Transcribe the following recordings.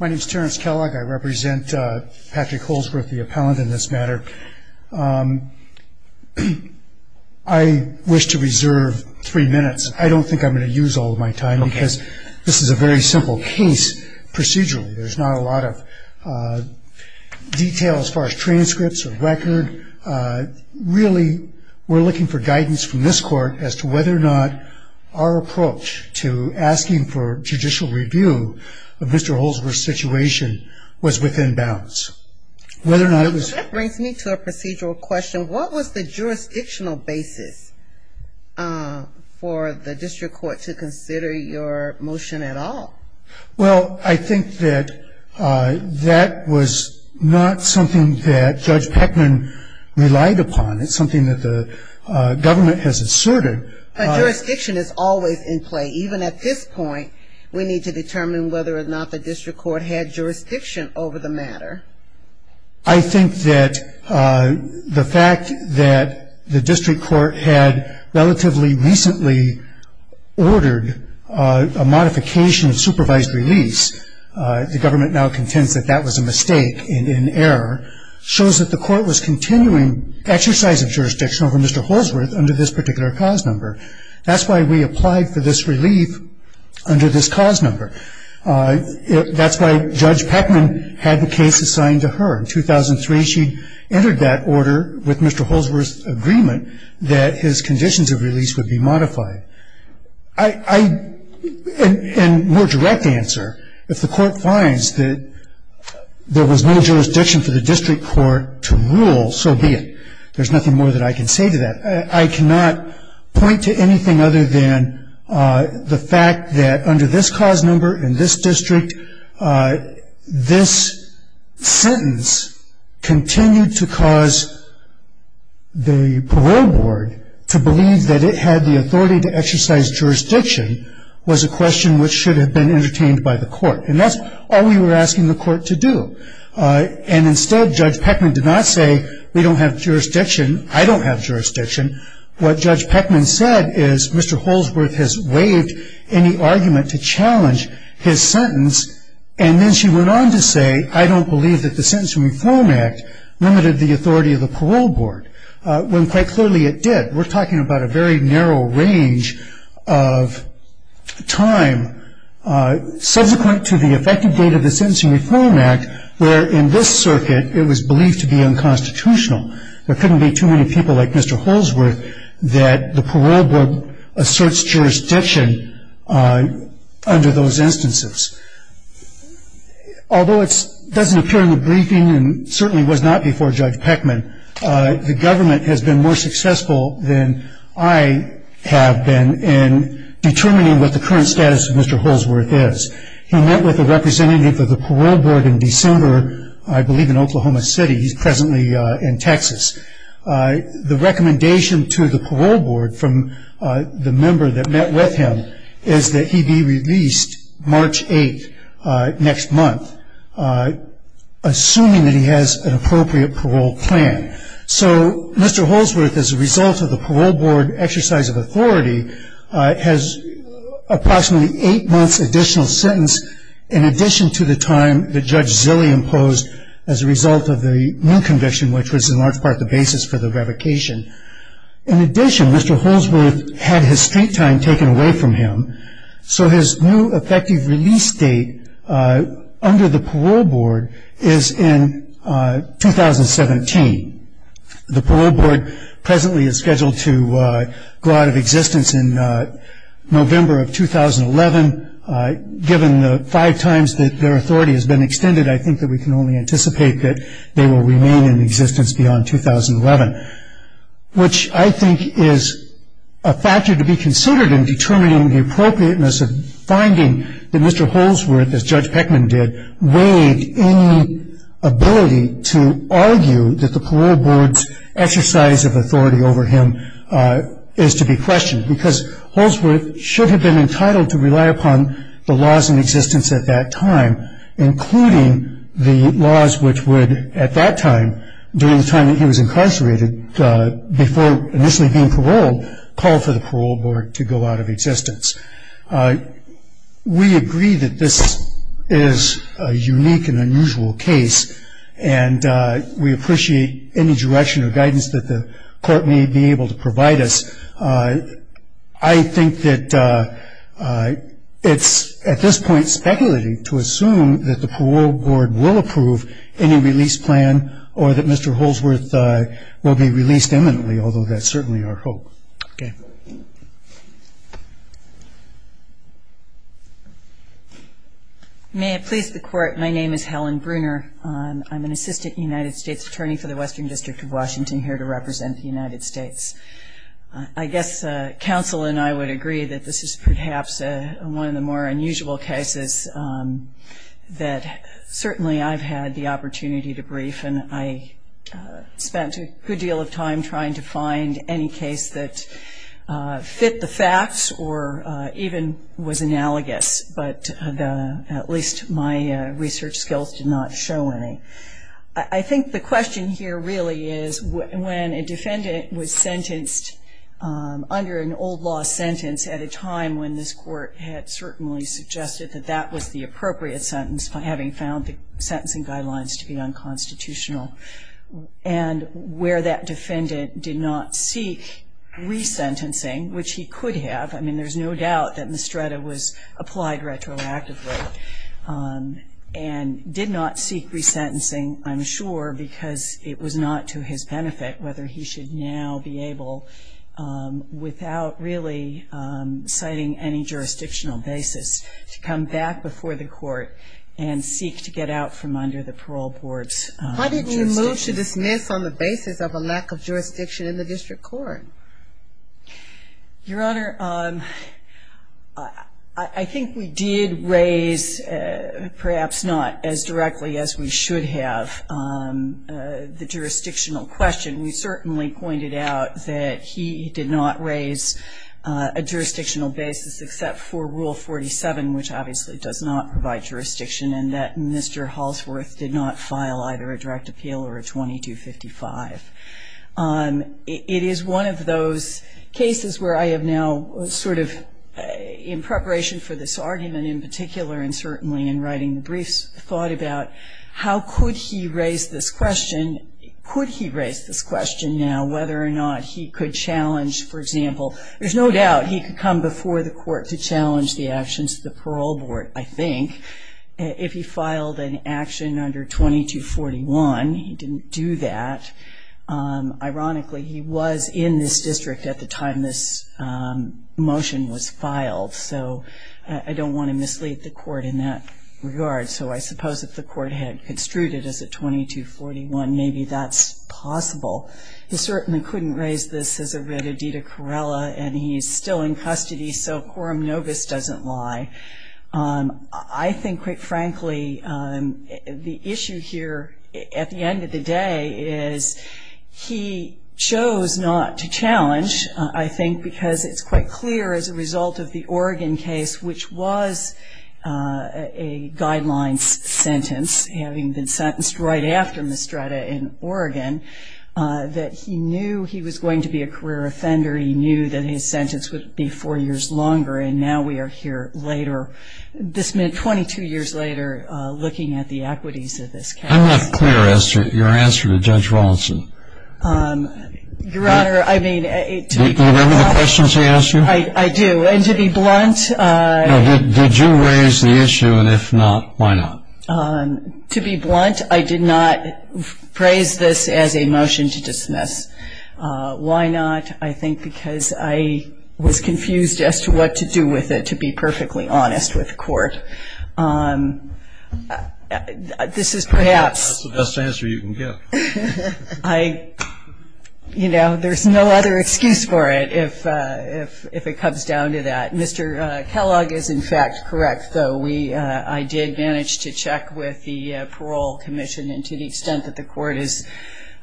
My name is Terrence Kellogg. I represent Patrick Holsworth, the appellant in this matter. I wish to reserve three minutes. I don't think I'm going to use all of my time because this is a very simple case procedurally. There's not a lot of detail as far as transcripts or record. I think really we're looking for guidance from this court as to whether or not our approach to asking for judicial review of Mr. Holsworth's situation was within bounds. Whether or not it was... That brings me to a procedural question. What was the jurisdictional basis for the district court to consider your motion at all? Well, I think that that was not something that Judge Peckman relied upon. It's something that the government has asserted. But jurisdiction is always in play. Even at this point, we need to determine whether or not the district court had jurisdiction over the matter. I think that the fact that the district court had relatively recently ordered a modification of supervised release, the government now contends that that was a mistake and an error, shows that the court was continuing exercise of jurisdiction over Mr. Holsworth under this particular cause number. That's why we applied for this relief under this cause number. That's why Judge Peckman had the case assigned to her. In 2003, she entered that order with Mr. Holsworth's agreement that his conditions of release would be modified. In more direct answer, if the court finds that there was no jurisdiction for the district court to rule, so be it. There's nothing more that I can say to that. I cannot point to anything other than the fact that under this cause number in this district, this sentence continued to cause the parole board to believe that it had the authority to exercise jurisdiction was a question which should have been entertained by the court. And that's all we were asking the court to do. And instead, Judge Peckman did not say we don't have jurisdiction. I don't have jurisdiction. What Judge Peckman said is Mr. Holsworth has waived any argument to challenge his sentence. And then she went on to say, I don't believe that the Sentencing Reform Act limited the authority of the parole board, when quite clearly it did. We're talking about a very narrow range of time subsequent to the effective date of the Sentencing Reform Act, where in this circuit it was believed to be unconstitutional. There couldn't be too many people like Mr. Holsworth that the parole board asserts jurisdiction under those instances. Although it doesn't appear in the briefing and certainly was not before Judge Peckman, the government has been more successful than I have been in determining what the current status of Mr. Holsworth is. He met with a representative of the parole board in December, I believe in Oklahoma City. He's presently in Texas. The recommendation to the parole board from the member that met with him is that he be released March 8, next month, assuming that he has an appropriate parole plan. So Mr. Holsworth, as a result of the parole board exercise of authority, has approximately eight months' additional sentence, in addition to the time that Judge Zille imposed as a result of the new conviction, which was in large part the basis for the revocation. In addition, Mr. Holsworth had his straight time taken away from him, so his new effective release date under the parole board is in 2017. The parole board presently is scheduled to go out of existence in November of 2011. Given the five times that their authority has been extended, I think that we can only anticipate that they will remain in existence beyond 2011, which I think is a factor to be considered in determining the appropriateness of finding that Mr. Holsworth, as Judge Peckman did, weighed any ability to argue that the parole board's exercise of authority over him is to be questioned, because Holsworth should have been entitled to rely upon the laws in existence at that time, including the laws which would, at that time, during the time that he was incarcerated, before initially being paroled, call for the parole board to go out of existence. We agree that this is a unique and unusual case, and we appreciate any direction or guidance that the court may be able to provide us. I think that it's, at this point, speculating to assume that the parole board will approve any release plan or that Mr. Holsworth will be released imminently, although that's certainly our hope. May it please the Court, my name is Helen Bruner. I'm an Assistant United States Attorney for the Western District of Washington, here to represent the United States. I guess counsel and I would agree that this is perhaps one of the more unusual cases that certainly I've had the opportunity to brief, and I spent a good deal of time trying to find any case that fit the facts or even was analogous, but at least my research skills did not show any. I think the question here really is, when a defendant was sentenced under an old law sentence at a time when this court had certainly suggested that that was the appropriate sentence, having found the sentencing guidelines to be unconstitutional, and where that defendant did not seek resentencing, which he could have, I mean there's no doubt that Mestreda was applied retroactively, and did not seek resentencing, I'm sure, because it was not to his benefit whether he should now be able, without really citing any jurisdictional basis, to come back before the court and seek to get out from under the parole board's jurisdiction. How did he move to dismiss on the basis of a lack of jurisdiction in the district court? Your Honor, I think we did raise, perhaps not as directly as we should have, the jurisdictional question. We certainly pointed out that he did not raise a jurisdictional basis except for Rule 47, which obviously does not provide jurisdiction, and that Mr. Halsworth did not file either a direct appeal or a 2255. It is one of those cases where I have now sort of, in preparation for this argument in particular, and certainly in writing the briefs, thought about how could he raise this question, could he raise this question now, whether or not he could challenge, for example, there's no doubt he could come before the court to challenge the actions of the parole board, I think, if he filed an action under 2241. He didn't do that. Ironically, he was in this district at the time this motion was filed, so I don't want to mislead the court in that regard. So I suppose if the court had construed it as a 2241, maybe that's possible. He certainly couldn't raise this as a Rededita Corella, and he's still in custody, so quorum novis doesn't lie. I think, quite frankly, the issue here at the end of the day is he chose not to challenge, I think, because it's quite clear as a result of the Oregon case, which was a guidelines sentence, having been sentenced right after Mistretta in Oregon, that he knew he was going to be a career offender, he knew that his sentence would be four years longer, and now we are here later. This meant 22 years later looking at the equities of this case. I'm not clear, Esther, your answer to Judge Rawlinson. Your Honor, I mean to be blunt. Do you remember the questions he asked you? I do, and to be blunt. No, did you raise the issue, and if not, why not? To be blunt, I did not praise this as a motion to dismiss. Why not? I think because I was confused as to what to do with it, to be perfectly honest with the court. This is perhaps. That's the best answer you can give. You know, there's no other excuse for it if it comes down to that. Mr. Kellogg is, in fact, correct, though. I did manage to check with the Parole Commission, and to the extent that the court is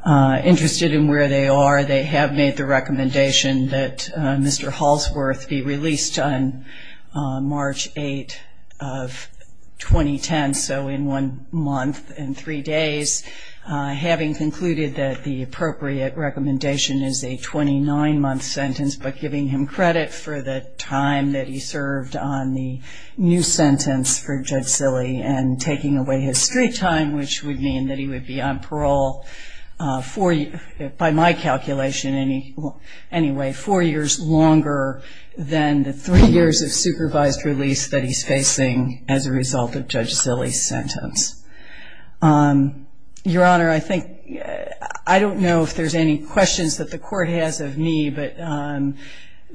interested in where they are, they have made the recommendation that Mr. Hallsworth be released on March 8th of 2010, so in one month and three days. Having concluded that the appropriate recommendation is a 29-month sentence, but giving him credit for the time that he served on the new sentence for Judge Silley and taking away his street time, which would mean that he would be on parole, by my calculation, anyway, four years longer than the three years of supervised release that he's facing as a result of Judge Silley's sentence. Your Honor, I don't know if there's any questions that the court has of me, but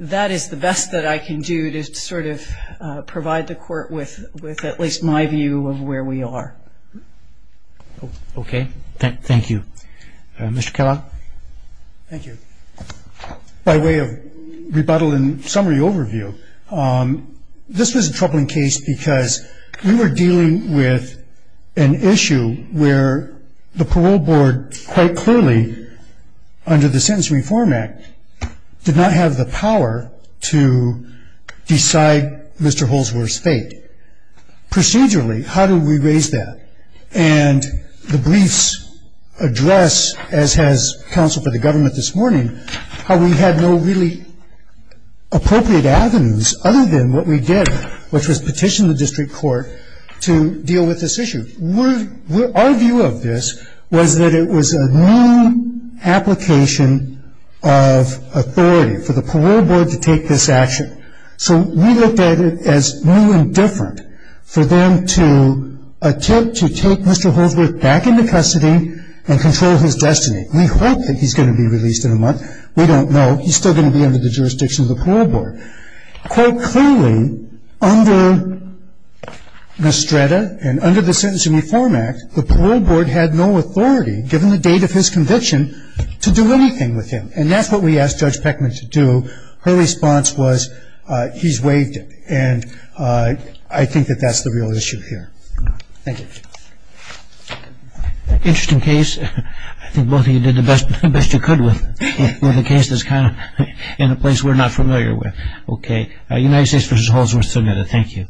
that is the best that I can do to sort of provide the court with at least my view of where we are. Okay. Thank you. Mr. Kellogg. Thank you. By way of rebuttal and summary overview, this was a troubling case because we were dealing with an issue where the parole board, quite clearly under the Sentence Reform Act, did not have the power to decide Mr. Hallsworth's fate. Procedurally, how do we raise that? And the briefs address, as has counsel for the government this morning, how we had no really appropriate avenues other than what we did, which was petition the district court to deal with this issue. Our view of this was that it was a new application of authority for the parole board to take this action. So we looked at it as new and different for them to attempt to take Mr. Hallsworth back into custody and control his destiny. We hope that he's going to be released in a month. We don't know. He's still going to be under the jurisdiction of the parole board. And, quote, clearly under Mestreda and under the Sentence Reform Act, the parole board had no authority, given the date of his conviction, to do anything with him. And that's what we asked Judge Peckman to do. Her response was, he's waived it. And I think that that's the real issue here. Thank you. Interesting case. I think both of you did the best you could with a case that's kind of in a place we're not familiar with. Okay. United States v. Hallsworth together. Thank you.